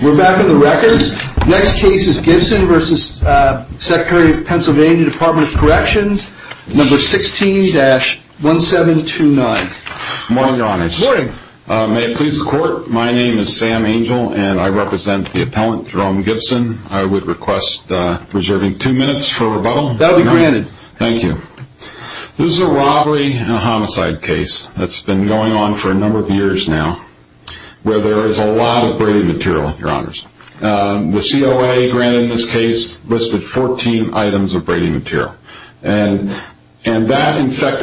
16-1729 Good morning, your honors. May it please the court, my name is Sam Angel and I represent the appellant Jerome Gibson. I would request reserving two minutes for rebuttal. That will be granted. Thank you. This is a robbery and a homicide case that's been going on for a number of years now where there is a lot of braided material. You're going to see a lot of braided material in this case. It's going to be a lot of braided material. You're going to see a lot of braided material in this case. It's going to be a lot of braided material in this case. It's The COA granted in this case listed 14 items of braided material. That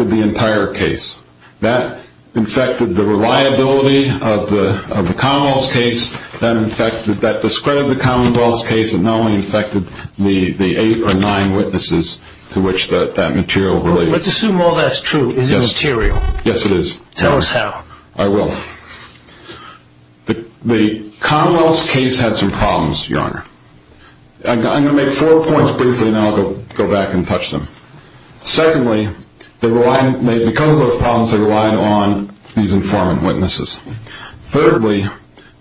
infected the entire case. That infected the reliability of the Commonwealth case. That discredited the Commonwealth case and not only infected the eight or nine witnesses to which that material relates. Let's assume all that's true. Is it material? Yes, it is. Tell us how. I will. First, the Commonwealth's case had some problems, Your Honor. I'm going to make four points briefly and then I'll go back and touch them. Secondly, because of those problems, they relied on these informant witnesses. Thirdly,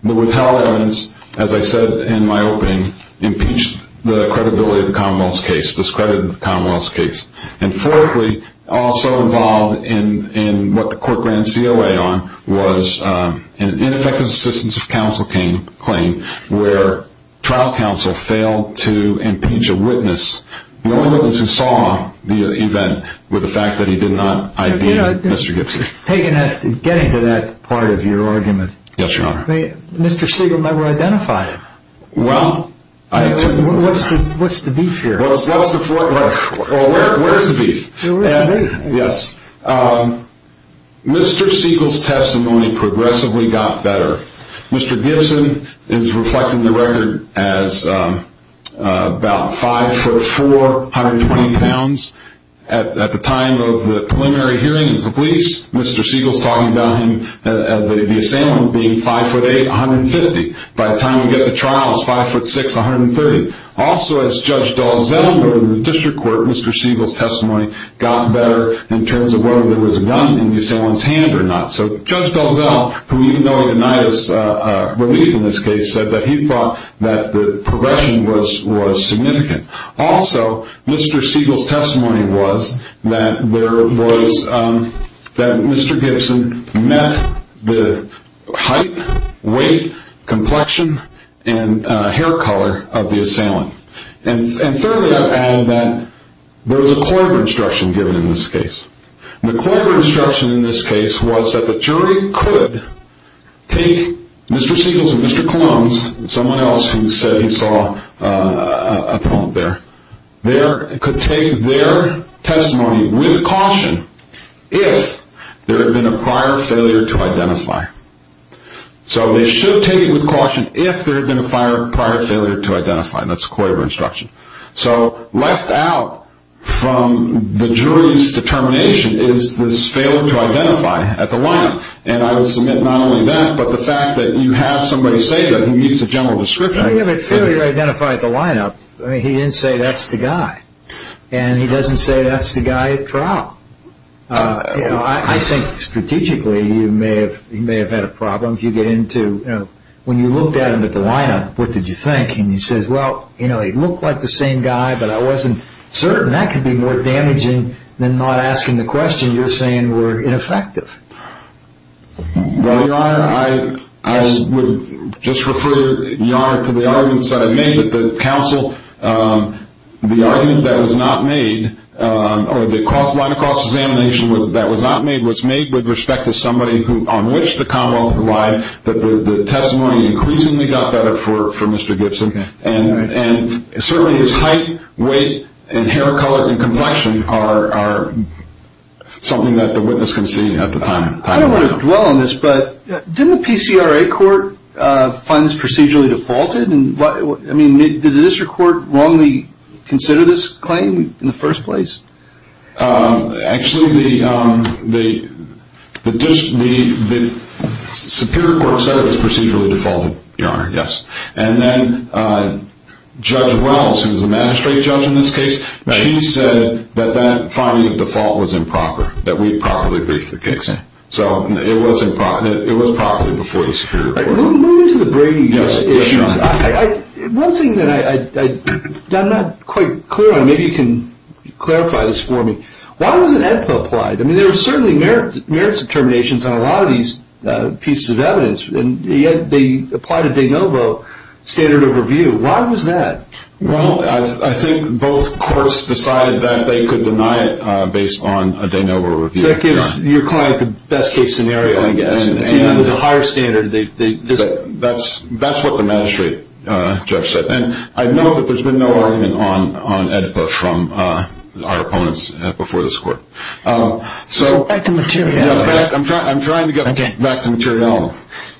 the withheld evidence, as I said in my opening, impeached the credibility of the ineffective assistance of counsel claim where trial counsel failed to impeach a witness, the only witness who saw the event, with the fact that he did not ID Mr. Gipsy. Getting to that part of your argument, Mr. Siegel never identified him. What's the beef here? Mr. Siegel's testimony progressively got better. Mr. Gibson is reflecting the record as about 5'4", 120 pounds. At the time of the preliminary hearing of the police, Mr. Siegel's talking about him being 5'8", 150. By the time we get to trial, he's 5'6", 130. Also, as Judge Dalzell noted in the district court, Mr. Siegel's testimony got better in terms of whether there was a gun in the assailant's hand or not. So Judge Dalzell, who even though he denied his belief in this case, said that he thought that the progression was significant. Also, Mr. Siegel's testimony was that Mr. Gibson met the height, weight, complexion, and hair color of the assailant. And thirdly, I've added that there was a Coyber instruction given in this case. The Coyber instruction in this case was that the jury could take Mr. Siegel's and Mr. Colon's testimony with caution if there had been a prior failure to identify. And that's the Coyber instruction. So left out from the jury's determination is this failure to identify at the lineup. And I would submit not only that, but the fact that you have somebody say that he meets the general description. When you have a failure to identify at the lineup, he didn't say that's the guy. And he doesn't say that's the guy at trial. I think strategically, he may have had a problem. When you looked at him at the lineup, what did you think? And he says, well, he looked like the same guy, but I wasn't certain. That could be more damaging than not asking the question you're saying were ineffective. Well, Your Honor, I would just refer Your Honor to the arguments that I made that the counsel, the argument that was not made, or the line of cross-examination that was not made was made with respect to somebody on which the Commonwealth relied, that the testimony increasingly got better for Mr. Gibson. And certainly his height, weight, and hair color and complexion are something that the witness can see at the time. I don't want to dwell on this, but didn't the PCRA court find this procedurally defaulted? I mean, did the district court wrongly consider this claim in the first place? Actually, the Superior Court said it was procedurally defaulted, Your Honor, yes. And then Judge Wells, who's the magistrate judge in this case, she said that that finding of default was improper, that we properly briefed the case. So it was properly before the Superior Court. Moving into the Brady issues, one thing that I'm not quite clear on, maybe you can clarify this for me, why wasn't AEDPA applied? I mean, there were certainly merits determinations on a lot of these pieces of evidence, and yet they applied a de novo standard of review. Why was that? Well, I think both courts decided that they could deny it based on a de novo review. That gives your client the best case scenario, I guess. The higher standard. That's what the magistrate judge said. And I know that there's been no argument on AEDPA from our opponents before this court. So back to material.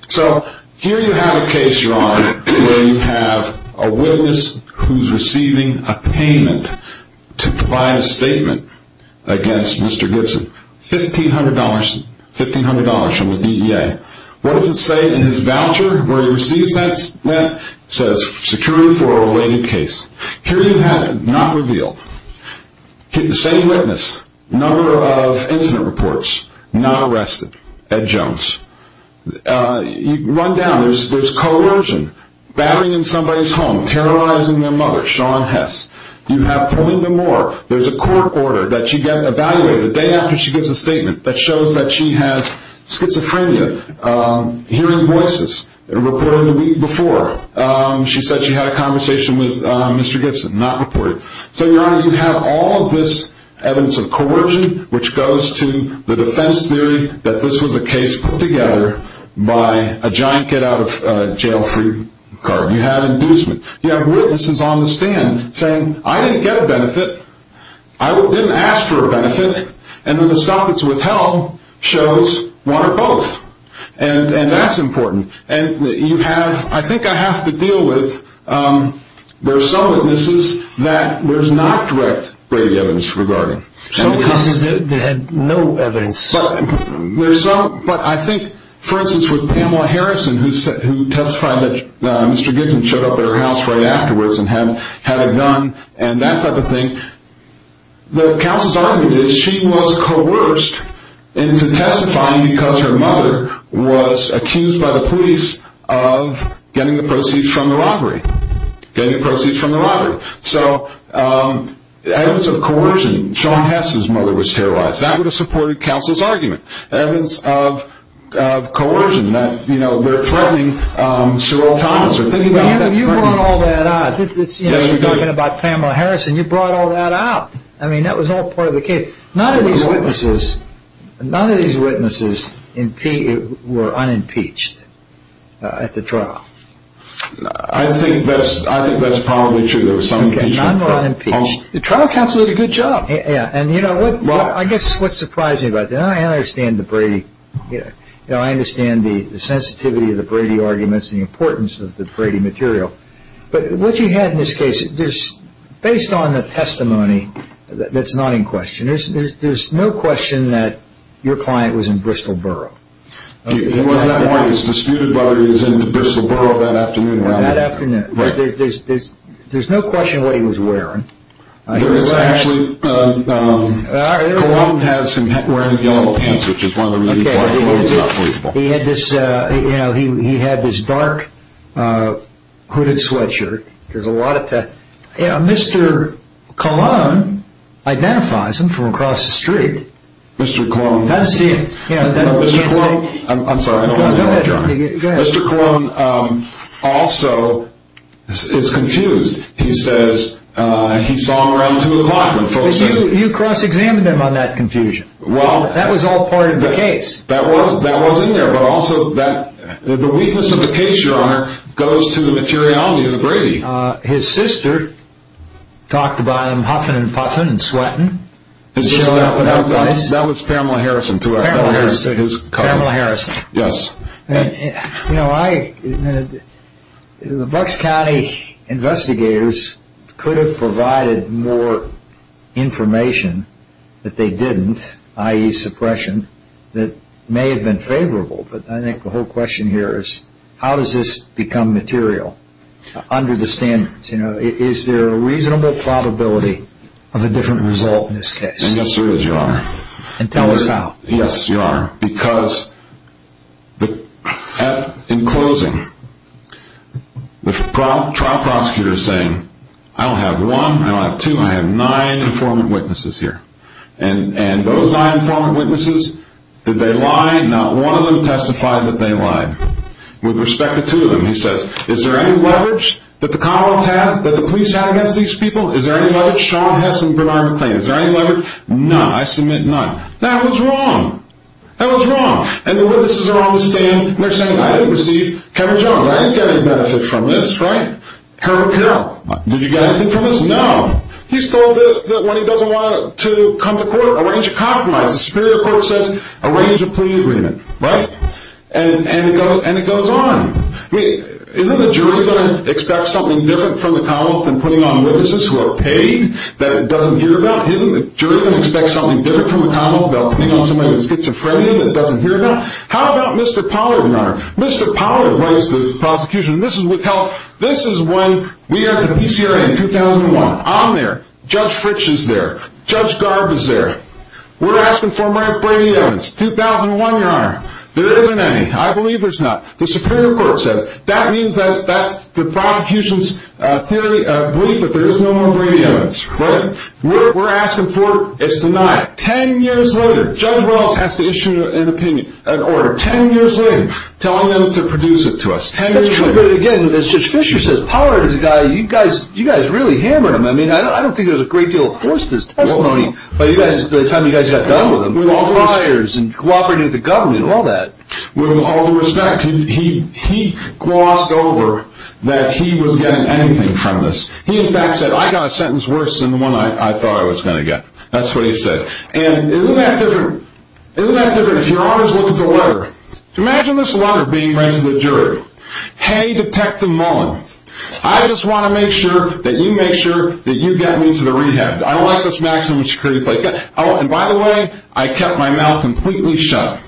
So here you have a case, Your Honor, where you have a witness who's receiving a payment to provide a statement against Mr. Gibson. $1,500 from the DEA. What does it say in his voucher where he receives that? It says security for a related case. Here you have, not revealed, the same witness, number of incident reports, not arrested, Ed Jones. You run down, there's coercion, battering in somebody's home, terrorizing their mother, Shawn Hess. You have Point Nemour, there's a court order that you get evaluated the day after she gives a statement that shows that she has schizophrenia. Hearing voices, reporting the week before, she said she had a conversation with Mr. Gibson, not reported. So, Your Honor, you have all of this evidence of coercion, which goes to the defense theory that this was a case put together by a giant get-out-of-jail-free card. You have inducement. You have witnesses on the stand saying, I didn't get a benefit. I didn't ask for a benefit. And then the stuff that's withheld shows one or both. And that's important. And you have, I think I have to deal with, there are some witnesses that there's not direct Brady evidence regarding. Some cases they had no evidence. But I think, for instance, with Pamela Harrison, who testified that Mr. Gibson showed up at her house right afterwards and had a gun and that type of thing. The counsel's argument is she was coerced into testifying because her mother was accused by the police of getting the proceeds from the robbery. Getting the proceeds from the robbery. So, evidence of coercion, Shawn Hess' mother was terrorized. That would have supported counsel's argument. Evidence of coercion, that they're threatening Cheryl Thomas. You brought all that out. You're talking about Pamela Harrison. You brought all that out. I mean, that was all part of the case. None of these witnesses were unimpeached at the trial. I think that's probably true. There were some impeached. None were unimpeached. The trial counsel did a good job. I guess what surprised me about that, and I understand the Brady, you know, I understand the sensitivity of the Brady arguments, the importance of the Brady material. But what you had in this case, based on the testimony that's not in question, there's no question that your client was in Bristol Borough. He was that morning. It's disputed whether he was in Bristol Borough that afternoon. That afternoon. There's no question what he was wearing. Actually, Cologne has him wearing yellow pants, which is one of the reasons why he's not believable. He had this, you know, he had this dark hooded sweatshirt. There's a lot of, you know, Mr. Cologne identifies him from across the street. Mr. Cologne. That's it. Mr. Cologne, I'm sorry. Go ahead. Mr. Cologne also is confused. He says he saw him around 2 o'clock. You cross-examined him on that confusion. Well. That was all part of the case. That was in there, but also that the weakness of the case, Your Honor, goes to the materiality of the Brady. His sister talked about him huffing and puffing and sweating. That was Pamela Harrison. Pamela Harrison. Pamela Harrison. Yes. You know, the Bucks County investigators could have provided more information that they didn't, i.e. suppression, that may have been favorable. But I think the whole question here is how does this become material under the standards? You know, is there a reasonable probability of a different result in this case? Yes, there is, Your Honor. And tell us how. Yes, Your Honor. Because in closing, the trial prosecutor is saying, I don't have one, I don't have two, I have nine informant witnesses here. And those nine informant witnesses, did they lie? Not one of them testified that they lied. With respect to two of them, he says, is there any leverage that the Commonwealth has, that the police have against these people? Is there any leverage? Sean Hess and Bernard McClain. Is there any leverage? None. I submit none. That was wrong. That was wrong. And the witnesses are on the stand, and they're saying, I didn't receive Kevin Jones. I didn't get any benefit from this, right? Harold Carroll. Did you get anything from this? No. He's told that when he doesn't want to come to court, arrange a compromise. The Superior Court says, arrange a plea agreement. Right? And it goes on. I mean, isn't the jury going to expect something different from the Commonwealth than putting on witnesses who are paid that it doesn't hear about? Isn't the jury going to expect something different from the Commonwealth than putting on somebody who's schizophrenic and doesn't hear about? How about Mr. Pollard, Your Honor? Mr. Pollard writes the prosecution, and this is when we have the PCRA in 2001. I'm there. Judge Fritsch is there. Judge Gard is there. We're asking for more Brady Evans. 2001, Your Honor. There isn't any. I believe there's not. The Superior Court says, that means the prosecution's belief that there is no more Brady Evans, right? We're asking for, it's denied. Ten years later, Judge Wells has to issue an opinion, an order. Ten years later, telling them to produce it to us. Ten years later. That's true, but again, as Judge Fischer says, Pollard is a guy, you guys really hammered him. I mean, I don't think there was a great deal of force to his testimony by the time you guys got done with him. With all the liars and cooperating with the government and all that. With all the respect, he glossed over that he was getting anything from this. He in fact said, I got a sentence worse than the one I thought I was going to get. That's what he said. And isn't that different? Isn't that different? If your Honor's looking for a letter. Imagine this letter being read to the jury. Hey, Detective Mullen. I just want to make sure that you make sure that you get me to the rehab. I don't like this maximum security play. Oh, and by the way, I kept my mouth completely shut.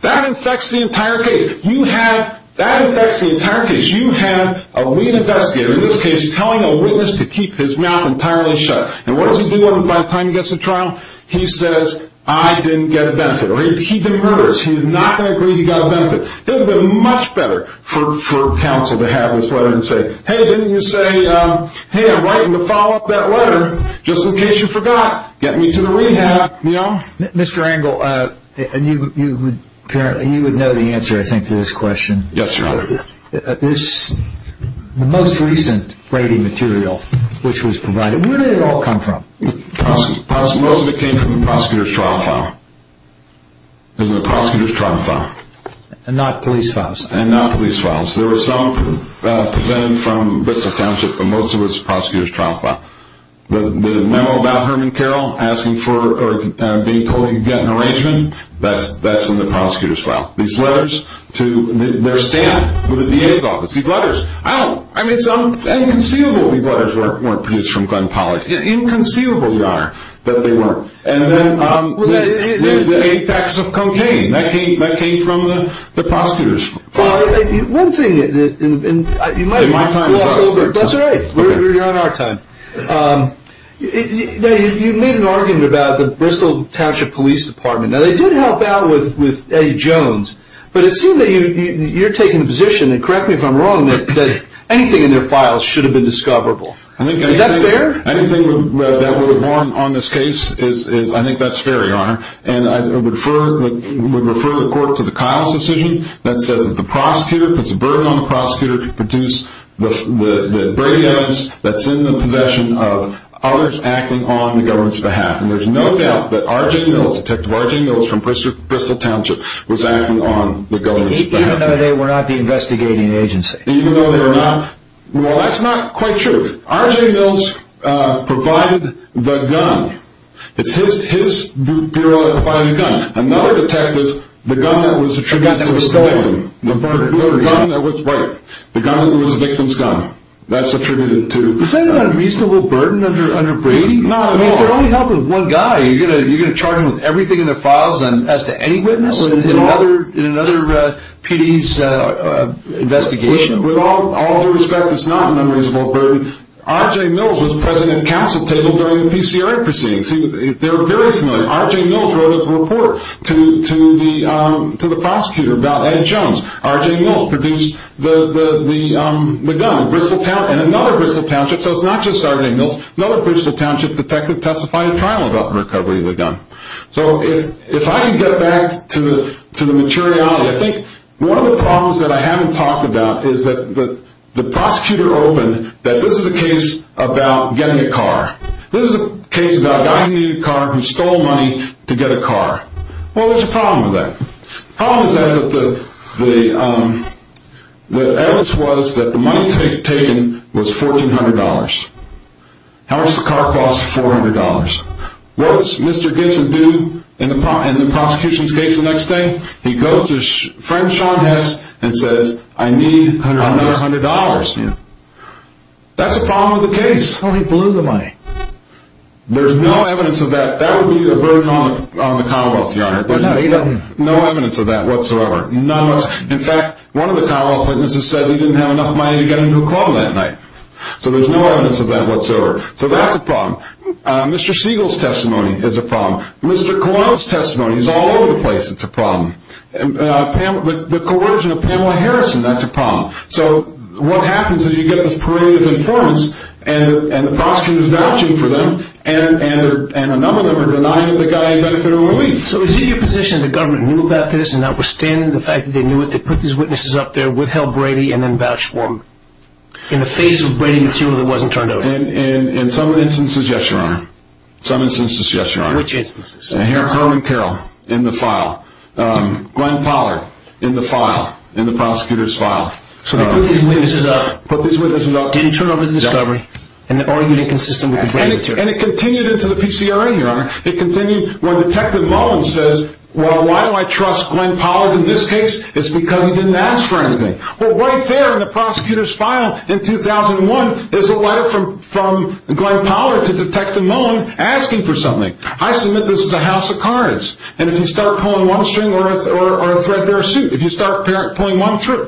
That infects the entire case. You have, that infects the entire case. You have a lead investigator, in this case, telling a witness to keep his mouth entirely shut. And what does he do by the time he gets to trial? He says, I didn't get a benefit. Or he demurs. He's not going to agree he got a benefit. It would have been much better for counsel to have this letter and say, Hey, didn't you say, hey, I'm writing to follow up that letter just in case you forgot. Get me to the rehab, you know? Mr. Engle, you would know the answer I think to this question. Yes, Your Honor. This, the most recent rating material which was provided, where did it all come from? Most of it came from the prosecutor's trial file. It was in the prosecutor's trial file. And not police files? And not police files. There were some presented from Bits of Township, but most of it was the prosecutor's trial file. The memo about Herman Carroll asking for, or being told he could get an arrangement, that's in the prosecutor's file. These letters to their staff at the DA's office. These letters. I don't, I mean it's inconceivable these letters weren't produced from Glenn Pollock. Inconceivable, Your Honor, that they weren't. And then the eight packs of cocaine. That came from the prosecutor's file. One thing, and you might have glossed over it. That's all right. You're on our time. You made an argument about the Bristol Township Police Department. Now they did help out with Eddie Jones. But it seems that you're taking the position, and correct me if I'm wrong, that anything in their files should have been discoverable. Is that fair? Anything that would inform on this case, I think that's fair, Your Honor. And I would refer the court to the Kyle's decision that says that the prosecutor, puts a burden on the prosecutor to produce the evidence that's in the possession of others acting on the government's behalf. And there's no doubt that R.J. Mills, Detective R.J. Mills from Bristol Township was acting on the government's behalf. Even though they were not the investigating agency. Even though they were not. Well, that's not quite true. R.J. Mills provided the gun. It's his bureau that provided the gun. Another detective, the gun that was attributed to the victim. The gun that was stolen. The gun that was, right, the gun that was the victim's gun. That's attributed to the gun. Is that an unreasonable burden under Brady? Not at all. If you're only helping one guy, you're going to charge him with everything in the files as to any witness in another PD's investigation? With all due respect, it's not an unreasonable burden. R.J. Mills was present at council table during the PCRA proceedings. They were very familiar. R.J. Mills wrote a report to the prosecutor about Ed Jones. R.J. Mills produced the gun. And another Bristol township, so it's not just R.J. Mills. Another Bristol township detective testified in trial about the recovery of the gun. So, if I can get back to the materiality. I think one of the problems that I haven't talked about is that the prosecutor opened that this is a case about getting a car. This is a case about a guy who needed a car, who stole money to get a car. Well, there's a problem with that. The problem is that the evidence was that the money taken was $1,400. How much does the car cost? $400. What does Mr. Gibson do in the prosecution's case the next day? He goes to Frank Shaun Hess and says, I need another $100. That's a problem with the case. Well, he blew the money. There's no evidence of that. That would be a burden on the Commonwealth, Your Honor. No evidence of that whatsoever. In fact, one of the Commonwealth witnesses said he didn't have enough money to get him to a club that night. So, there's no evidence of that whatsoever. So, that's a problem. Mr. Siegel's testimony is a problem. Mr. Colon's testimony is all over the place. It's a problem. The coercion of Pamela Harrison, that's a problem. So, what happens is you get this parade of informants and the prosecutor is vouching for them. And a number of them are denying that the guy had benefited from relief. So, is it your position that the government knew about this and that withstanding the fact that they knew it, they put these witnesses up there, withheld Brady, and then vouched for him? In the face of Brady material that wasn't turned over? In some instances, yes, Your Honor. In some instances, yes, Your Honor. In which instances? Harold and Carol, in the file. Glenn Pollard, in the file. In the prosecutor's file. So, they put these witnesses up. Didn't turn over the discovery. And argued inconsistent with the Brady material. And it continued into the PCRA, Your Honor. It continued when Detective Mullen says, well, why do I trust Glenn Pollard in this case? It's because he didn't ask for anything. Well, right there in the prosecutor's file, in 2001, is a letter from Glenn Pollard to Detective Mullen asking for something. I submit this is a house of cards. And if you start pulling one string or a thread bare suit, if you start pulling one thread,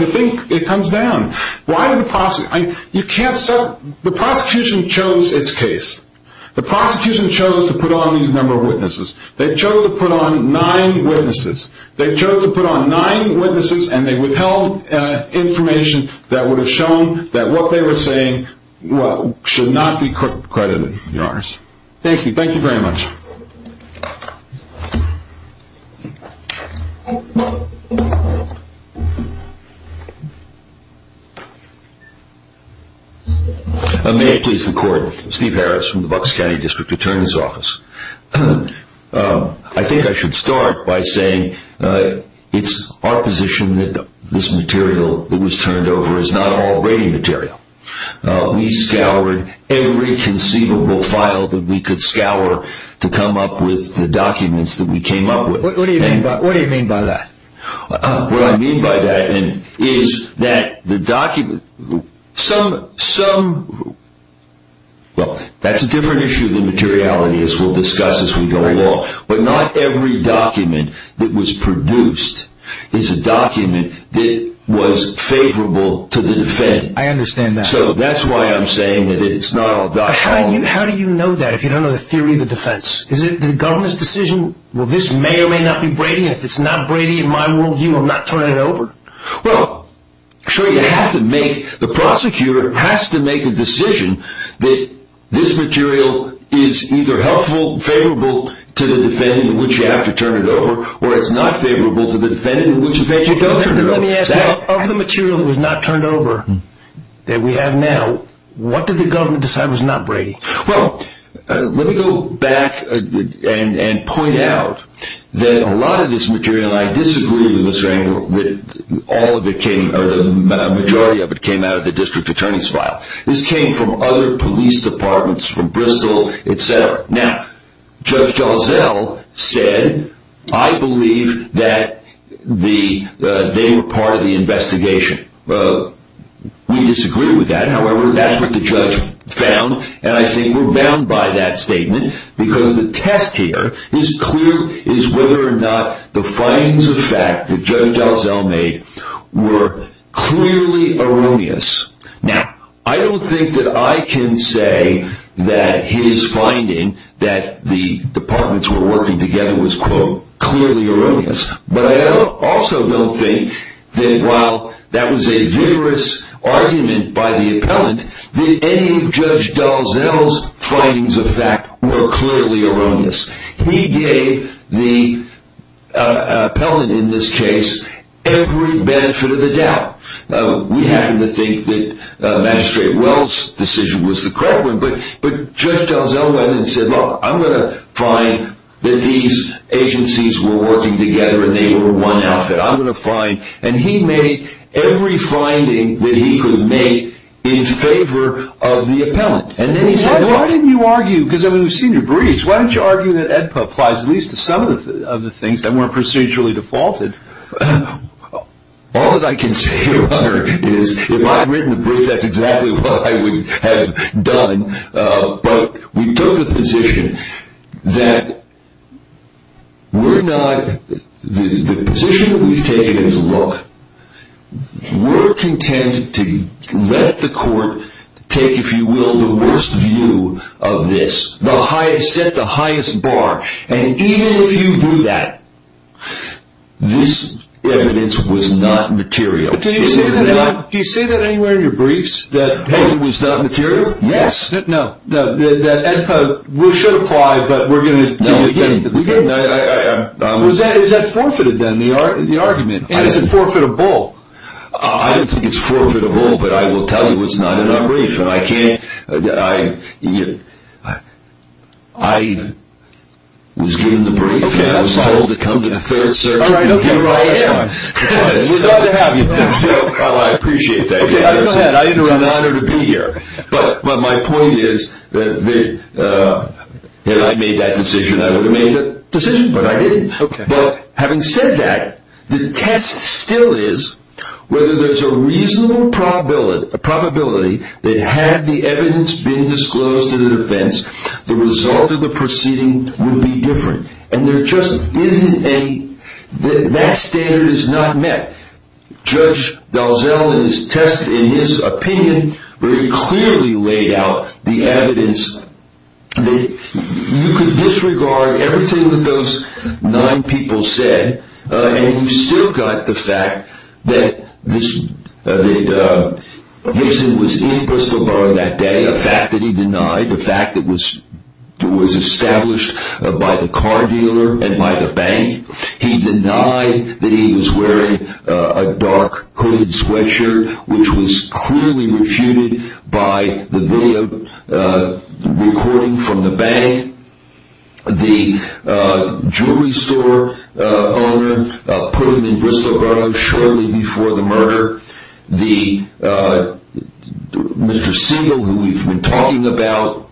you think it comes down. Why did the prosecutor? The prosecution chose its case. The prosecution chose to put on these number of witnesses. They chose to put on nine witnesses. They chose to put on nine witnesses. And they withheld information that would have shown that what they were saying should not be credited, Your Honor. Thank you. Thank you very much. Thank you. May it please the Court, Steve Harris from the Bucks County District Attorney's Office. I think I should start by saying it's our position that this material that was turned over is not all Brady material. We scoured every conceivable file that we could scour to come up with the documents that we came up with. What do you mean by that? What I mean by that is that the document, some, some, well, that's a different issue than materiality as we'll discuss as we go along. But not every document that was produced is a document that was favorable to the defendant. I understand that. So that's why I'm saying that it's not all documents. How do you know that if you don't know the theory of the defense? Is it the government's decision, well, this may or may not be Brady, and if it's not Brady, in my world view, I'm not turning it over? Well, sure, you have to make, the prosecutor has to make a decision that this material is either helpful, favorable to the defendant in which you have to turn it over, or it's not favorable to the defendant in which you have to turn it over. Let me ask you, of the material that was not turned over that we have now, what did the government decide was not Brady? Well, let me go back and point out that a lot of this material, and I disagree with Mr. Engel, all of it came, or the majority of it came out of the district attorney's file. This came from other police departments, from Bristol, etc. Now, Judge Gauzel said, I believe that they were part of the investigation. We disagree with that. However, that's what the judge found, and I think we're bound by that statement, because the test here is clear, is whether or not the findings of fact that Judge Gauzel made were clearly erroneous. Now, I don't think that I can say that his finding that the departments were working together was, quote, clearly erroneous. But I also don't think that while that was a vigorous argument by the appellant, that any of Judge Gauzel's findings of fact were clearly erroneous. He gave the appellant in this case every benefit of the doubt. We happen to think that Magistrate Wells' decision was the correct one, but Judge Gauzel went and said, look, I'm going to find that these agencies were working together and they were one outfit. I'm going to find, and he made every finding that he could make in favor of the appellant. And then he said, why didn't you argue, because we've seen your briefs, why didn't you argue that EDPA applies at least to some of the things that weren't procedurally defaulted? All that I can say, Your Honor, is if I had written the brief, that's exactly what I would have done. But we took the position that we're not, the position we've taken is, look, we're content to let the court take, if you will, the worst view of this, set the highest bar, and even if you do that, this evidence was not material. Did you say that anywhere in your briefs? That it was not material? Yes. No, that EDPA should apply, but we're going to begin. Is that forfeited then, the argument? And is it forfeitable? I don't think it's forfeitable, but I will tell you it's not in our brief. I was given the brief, and I was told to come to the Third Circuit, and here I am. We're glad to have you. I appreciate that. It's an honor to be here. But my point is, had I made that decision, I would have made that decision, but I didn't. But having said that, the test still is whether there's a reasonable probability that had the evidence been disclosed to the defense, the result of the proceeding would be different. And there just isn't any, that standard is not met. Judge Dalzell has tested in his opinion very clearly laid out the evidence that you could disregard everything that those nine people said, and you've still got the fact that Vixen was in Bristol Bar that day, a fact that he denied, a fact that was established by the car dealer and by the bank. He denied that he was wearing a dark hooded sweatshirt, which was clearly refuted by the video recording from the bank. The jewelry store owner put him in Bristol Bar shortly before the murder. Mr. Segal, who we've been talking about,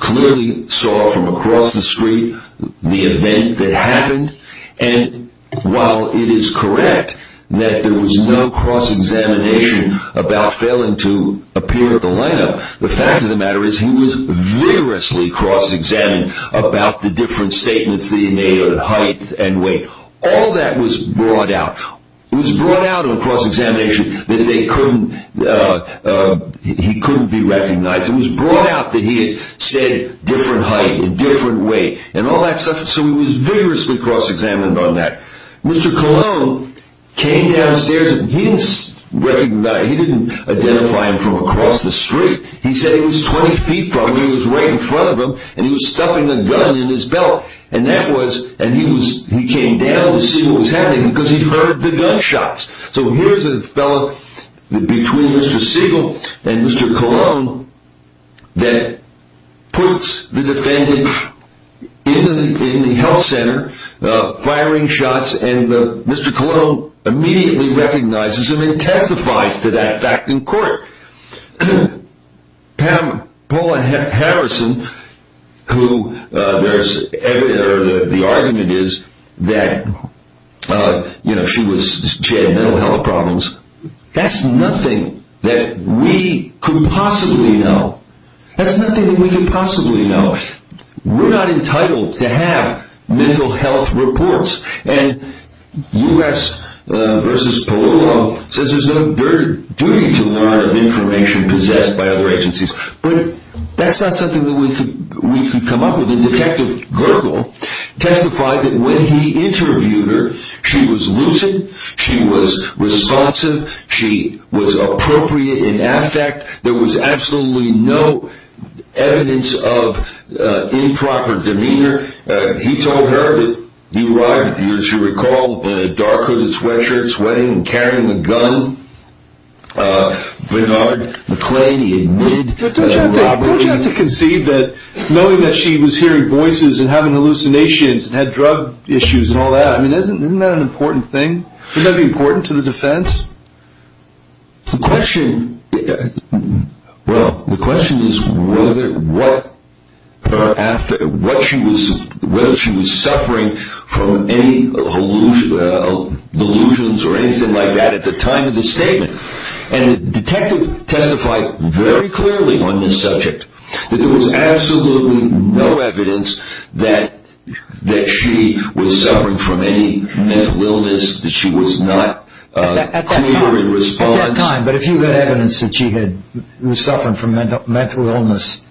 clearly saw from across the street the event that happened. And while it is correct that there was no cross-examination about failing to appear at the lineup, the fact of the matter is he was vigorously cross-examined about the different statements that he made on height and weight. All that was brought out. It was brought out on cross-examination that they couldn't, he couldn't be recognized. It was brought out that he had said different height and different weight and all that stuff, so he was vigorously cross-examined on that. Mr. Colon came downstairs and he didn't identify him from across the street. He said he was 20 feet from him. He was right in front of him and he was stuffing a gun in his belt. And that was, and he was, he came down to see what was happening because he heard the gunshots. So here's a fellow between Mr. Segal and Mr. Colon that puts the defendant in the health center firing shots and Mr. Colon immediately recognizes him and testifies to that fact in court. Pam, Paula Harrison, who there's, the argument is that she had mental health problems. That's nothing that we could possibly know. That's nothing that we could possibly know. We're not entitled to have mental health reports. And U.S. v. Polillo says there's no duty to learn of information possessed by other agencies. But that's not something that we could come up with. And Detective Gurgle testified that when he interviewed her, she was lucid, she was responsive, she was appropriate in affect. There was absolutely no evidence of improper demeanor. He told her that he arrived, as you recall, in a dark hooded sweatshirt, sweating and carrying a gun. Bernard McClady admitted that robbery. Don't you have to conceive that knowing that she was hearing voices and having hallucinations and had drug issues and all that, I mean, isn't that an important thing? Wouldn't that be important to the defense? The question, well, the question is whether she was suffering from any delusions or anything like that at the time of the statement. And Detective testified very clearly on this subject that there was absolutely no evidence that she was suffering from any mental illness, that she was not clear in response. At that time, but if you had evidence that she had suffered from mental illness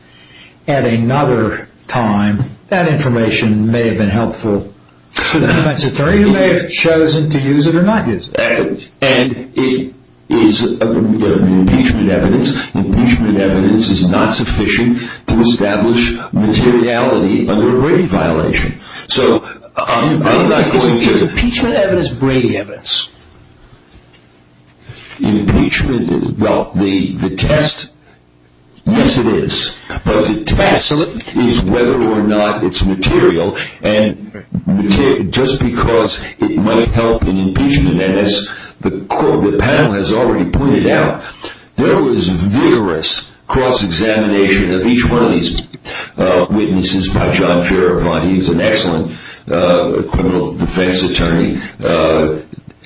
at another time, that information may have been helpful to the defense attorney who may have chosen to use it or not use it. And it is, the impeachment evidence, the impeachment evidence is not sufficient to establish materiality under a Brady violation. So I'm not going to... Is impeachment evidence Brady evidence? Impeachment, well, the test, yes, it is. But the test is whether or not it's material and just because it might help in impeachment and as the panel has already pointed out, there was vigorous cross-examination of each one of these witnesses by John Fairavant. He was an excellent criminal defense attorney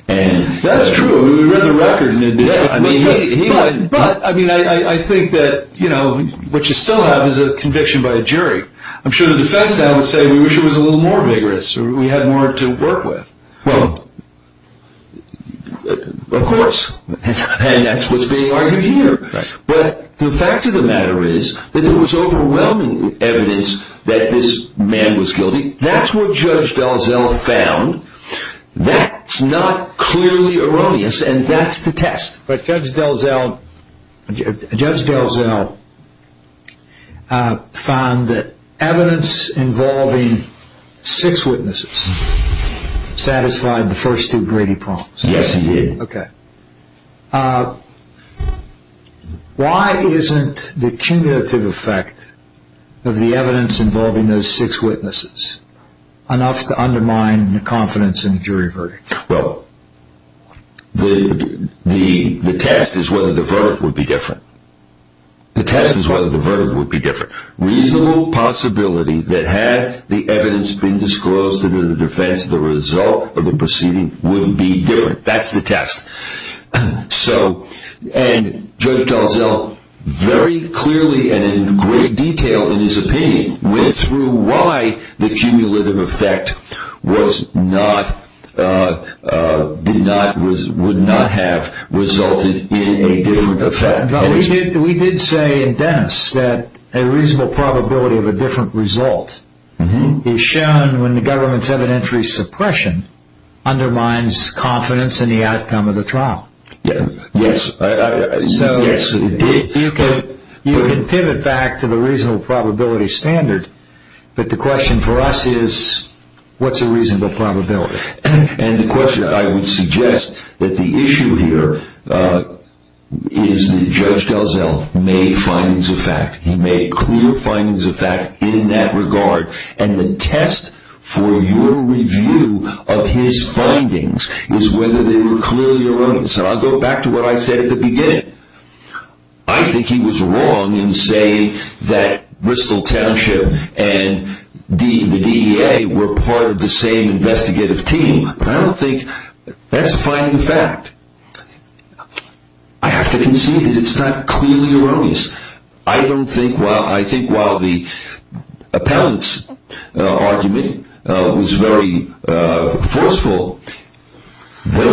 and... That's true. We read the record. But, I mean, I think that, you know, what you still have is a conviction by a jury. I'm sure the defense now would say, we wish it was a little more vigorous or we had more to work with. Well, of course. And that's what's being argued here. But the fact of the matter is that there was overwhelming evidence that this man was guilty. I mean, that's what Judge DelZello found. That's not clearly erroneous and that's the test. But Judge DelZello... Judge DelZello found that evidence involving six witnesses satisfied the first two Brady prompts. Yes, he did. Okay. Why isn't the cumulative effect of the evidence involving those six witnesses enough to undermine the confidence in the jury verdict? Well, the test is whether the verdict would be different. The test is whether the verdict would be different. Reasonable possibility that had the evidence been disclosed to the defense, the result of the proceeding would be different. That's the test. So, and Judge DelZello very clearly and in great detail in his opinion went through why the cumulative effect would not have resulted in a different effect. We did say in Dennis that a reasonable probability of a different result is shown when the government's evidentiary suppression undermines confidence in the outcome of the trial. Yes. So, you can pivot back to the reasonable probability standard, but the question for us is what's a reasonable probability? And the question I would suggest that the issue here is that Judge DelZello made findings of fact. He made clear findings of fact in that regard and the test for your review of his findings is whether they were clearly erroneous. And I'll go back to what I said at the beginning. I think he was wrong in saying that Bristol Township and the DEA were part of the same investigative team, but I don't think that's a finding of fact. I have to concede that it's not clearly erroneous. I don't think, well, I think while the Those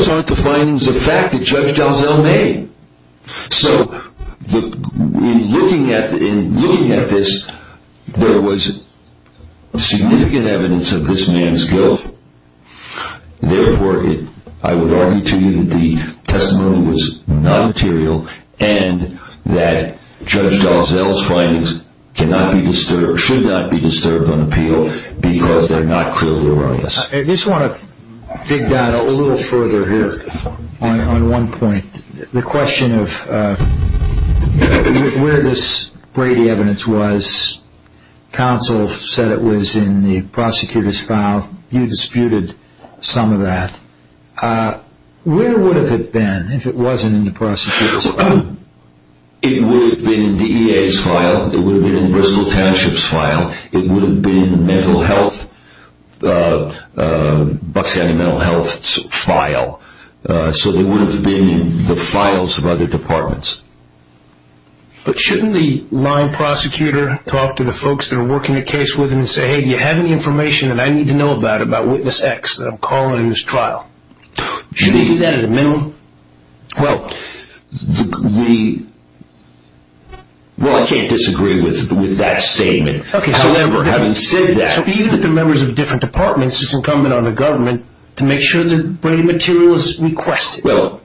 aren't the findings of fact that Judge DelZello made. So, in looking at this, there was significant evidence of this man's guilt. Therefore, I would argue to you that the testimony was non-material and that Judge DelZello's findings cannot be disturbed, should not be disturbed on appeal because they're not clearly erroneous. I just want to dig down a little further here on one point. The question of where this Brady evidence was, counsel said it was in the prosecutor's file. You disputed some of that. Where would it have been if it wasn't in the prosecutor's file? It would have been in the DEA's file. It would have been in Bristol Township's file. It would have been in the mental health, Bucks County Mental Health's file. So it would have been in the files of other departments. But shouldn't the line prosecutor talk to the folks that are working the case with him and say, hey, do you have any information that I need to know about, about witness X that I'm calling in this trial? Shouldn't he do that at a minimum? Well, we, well, I can't disagree with that statement. However, having said that. So even if they're members of different departments, it's incumbent on the government to make sure that Brady material is requested. Well,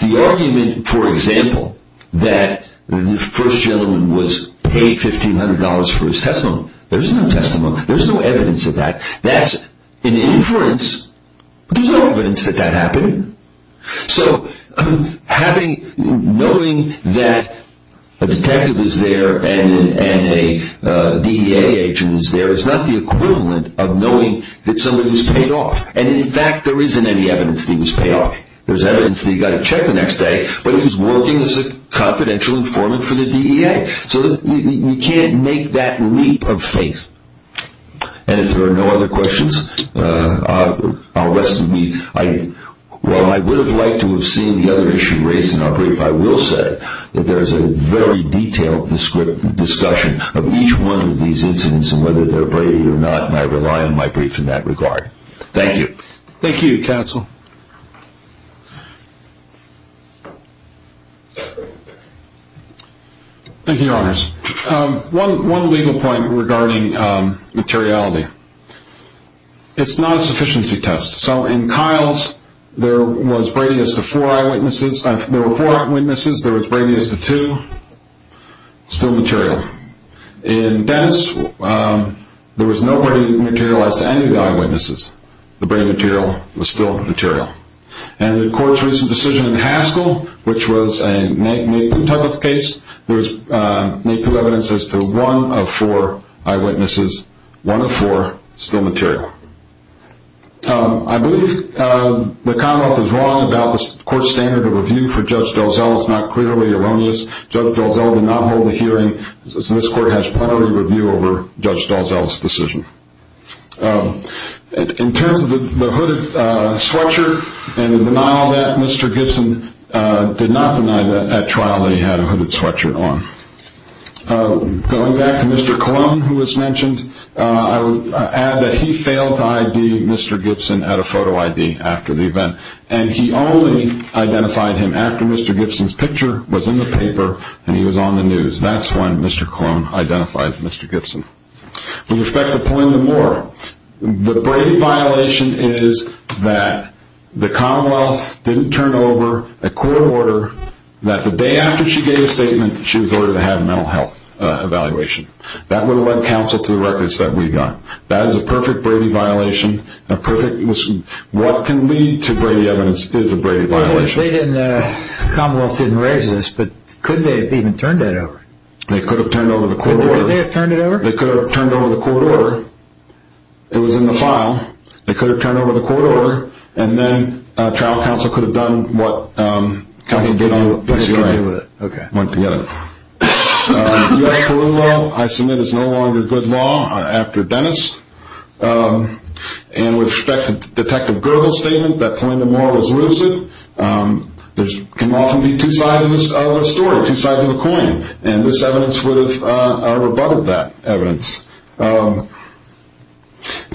the argument, for example, that the first gentleman was paid $1,500 for his testimony, there's no testimony. There's no evidence of that. That's an inference. There's no evidence that that happened. So knowing that a detective is there and a DEA agent is there is not the equivalent of knowing that somebody was paid off. And in fact, there isn't any evidence that he was paid off. There's evidence that he got a check the next day, but he was working as a confidential informant for the DEA. So you can't make that leap of faith. And if there are no other questions, while I would have liked to have seen the other issue raised in our brief, I will say that there is a very detailed discussion of each one of these incidents and whether they're Brady or not, and I rely on my brief in that regard. Thank you. Thank you, Your Honors. One legal point regarding materiality. It's not a sufficiency test. So in Kyle's, there was Brady as the four eyewitnesses. There were four eyewitnesses. There was Brady as the two, still material. In Dennis, there was nobody materialized to any of the eyewitnesses. The Brady material was still material. And the court's recent decision in Haskell, which was a naked type of case, there was naked evidence as to one of four eyewitnesses, one of four still material. I believe the Commonwealth is wrong about the court's standard of review for Judge Dalzell. It's not clearly erroneous. Judge Dalzell did not hold the hearing, so this court has priority review over Judge Dalzell's decision. In terms of the hooded sweatshirt and the denial of that, Mr. Gibson did not deny that at trial that he had a hooded sweatshirt on. Going back to Mr. Colon, who was mentioned, I would add that he failed to ID Mr. Gibson at a photo ID after the event, and he only identified him after Mr. Gibson's picture was in the paper and he was on the news. That's when Mr. Colon identified Mr. Gibson. With respect to Paulina Moore, the Brady violation is that the Commonwealth didn't turn over a court order that the day after she gave a statement she was ordered to have a mental health evaluation. That would have led counsel to the records that we got. That is a perfect Brady violation. What can lead to Brady evidence is a Brady violation. The Commonwealth didn't raise this, but could they have even turned it over? They could have turned over the court order. Could they have turned it over? They could have turned over the court order. It was in the file. They could have turned over the court order, and then trial counsel could have done what counsel did on Brady's right. Went together. U.S. Parole Law, I submit, is no longer good law after Dennis. With respect to Detective Gergel's statement that Paulina Moore was lucid, and this evidence would have rebutted that evidence. In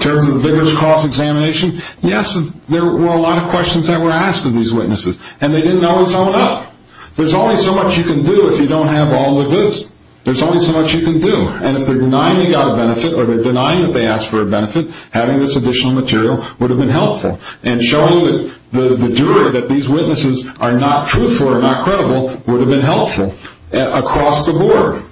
terms of the Vigorous Cross Examination, yes, there were a lot of questions that were asked of these witnesses, and they didn't always own up. There's only so much you can do if you don't have all the goods. There's only so much you can do, and if they're denying you got a benefit or they're denying that they asked for a benefit, having this additional material would have been helpful, and showing the jury that these witnesses are not truthful or not credible would have been helpful across the board.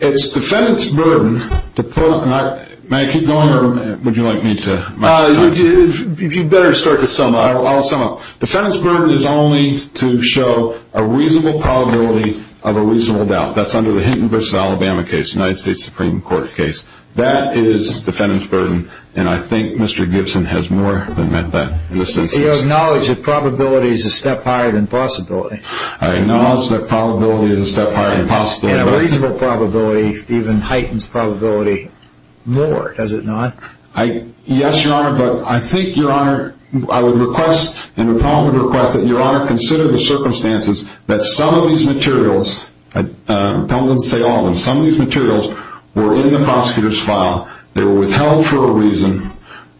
It's defendant's burden to put, and I, may I keep going, or would you like me to? You'd better start to sum up. I'll sum up. Defendant's burden is only to show a reasonable probability of a reasonable doubt. That's under the Hinton v. Alabama case, United States Supreme Court case. That is defendant's burden, and I think Mr. Gibson has more than met that in this instance. He acknowledged that probability is a step higher than possibility. I acknowledge that probability is a step higher than possibility. And a reasonable probability even heightens probability more, does it not? Yes, Your Honor, but I think, Your Honor, I would request, and the problem would request that Your Honor consider the circumstances that some of these materials, I don't want to say all of them, some of these materials were in the prosecutor's file. They were withheld for a reason.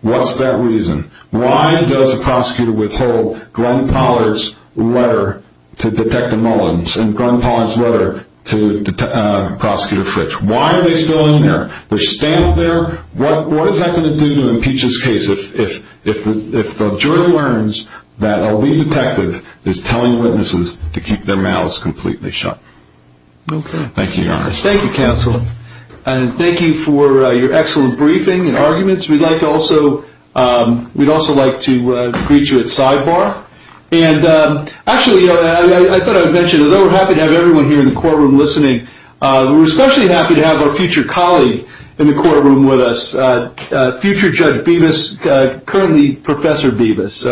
What's that reason? Why does a prosecutor withhold Glenn Pollard's letter to Detective Mullins and Glenn Pollard's letter to Prosecutor Fitch? Why are they still in there? There's staff there. What is that going to do to impeach this case if the jury learns that a lead detective is telling witnesses to keep their mouths completely shut? Okay. Thank you, Your Honor. Thank you, counsel. And thank you for your excellent briefing and arguments. We'd also like to greet you at sidebar. And actually, I thought I would mention, although we're happy to have everyone here in the courtroom listening, we're especially happy to have our future colleague in the courtroom with us, future Judge Bevis, currently Professor Bevis.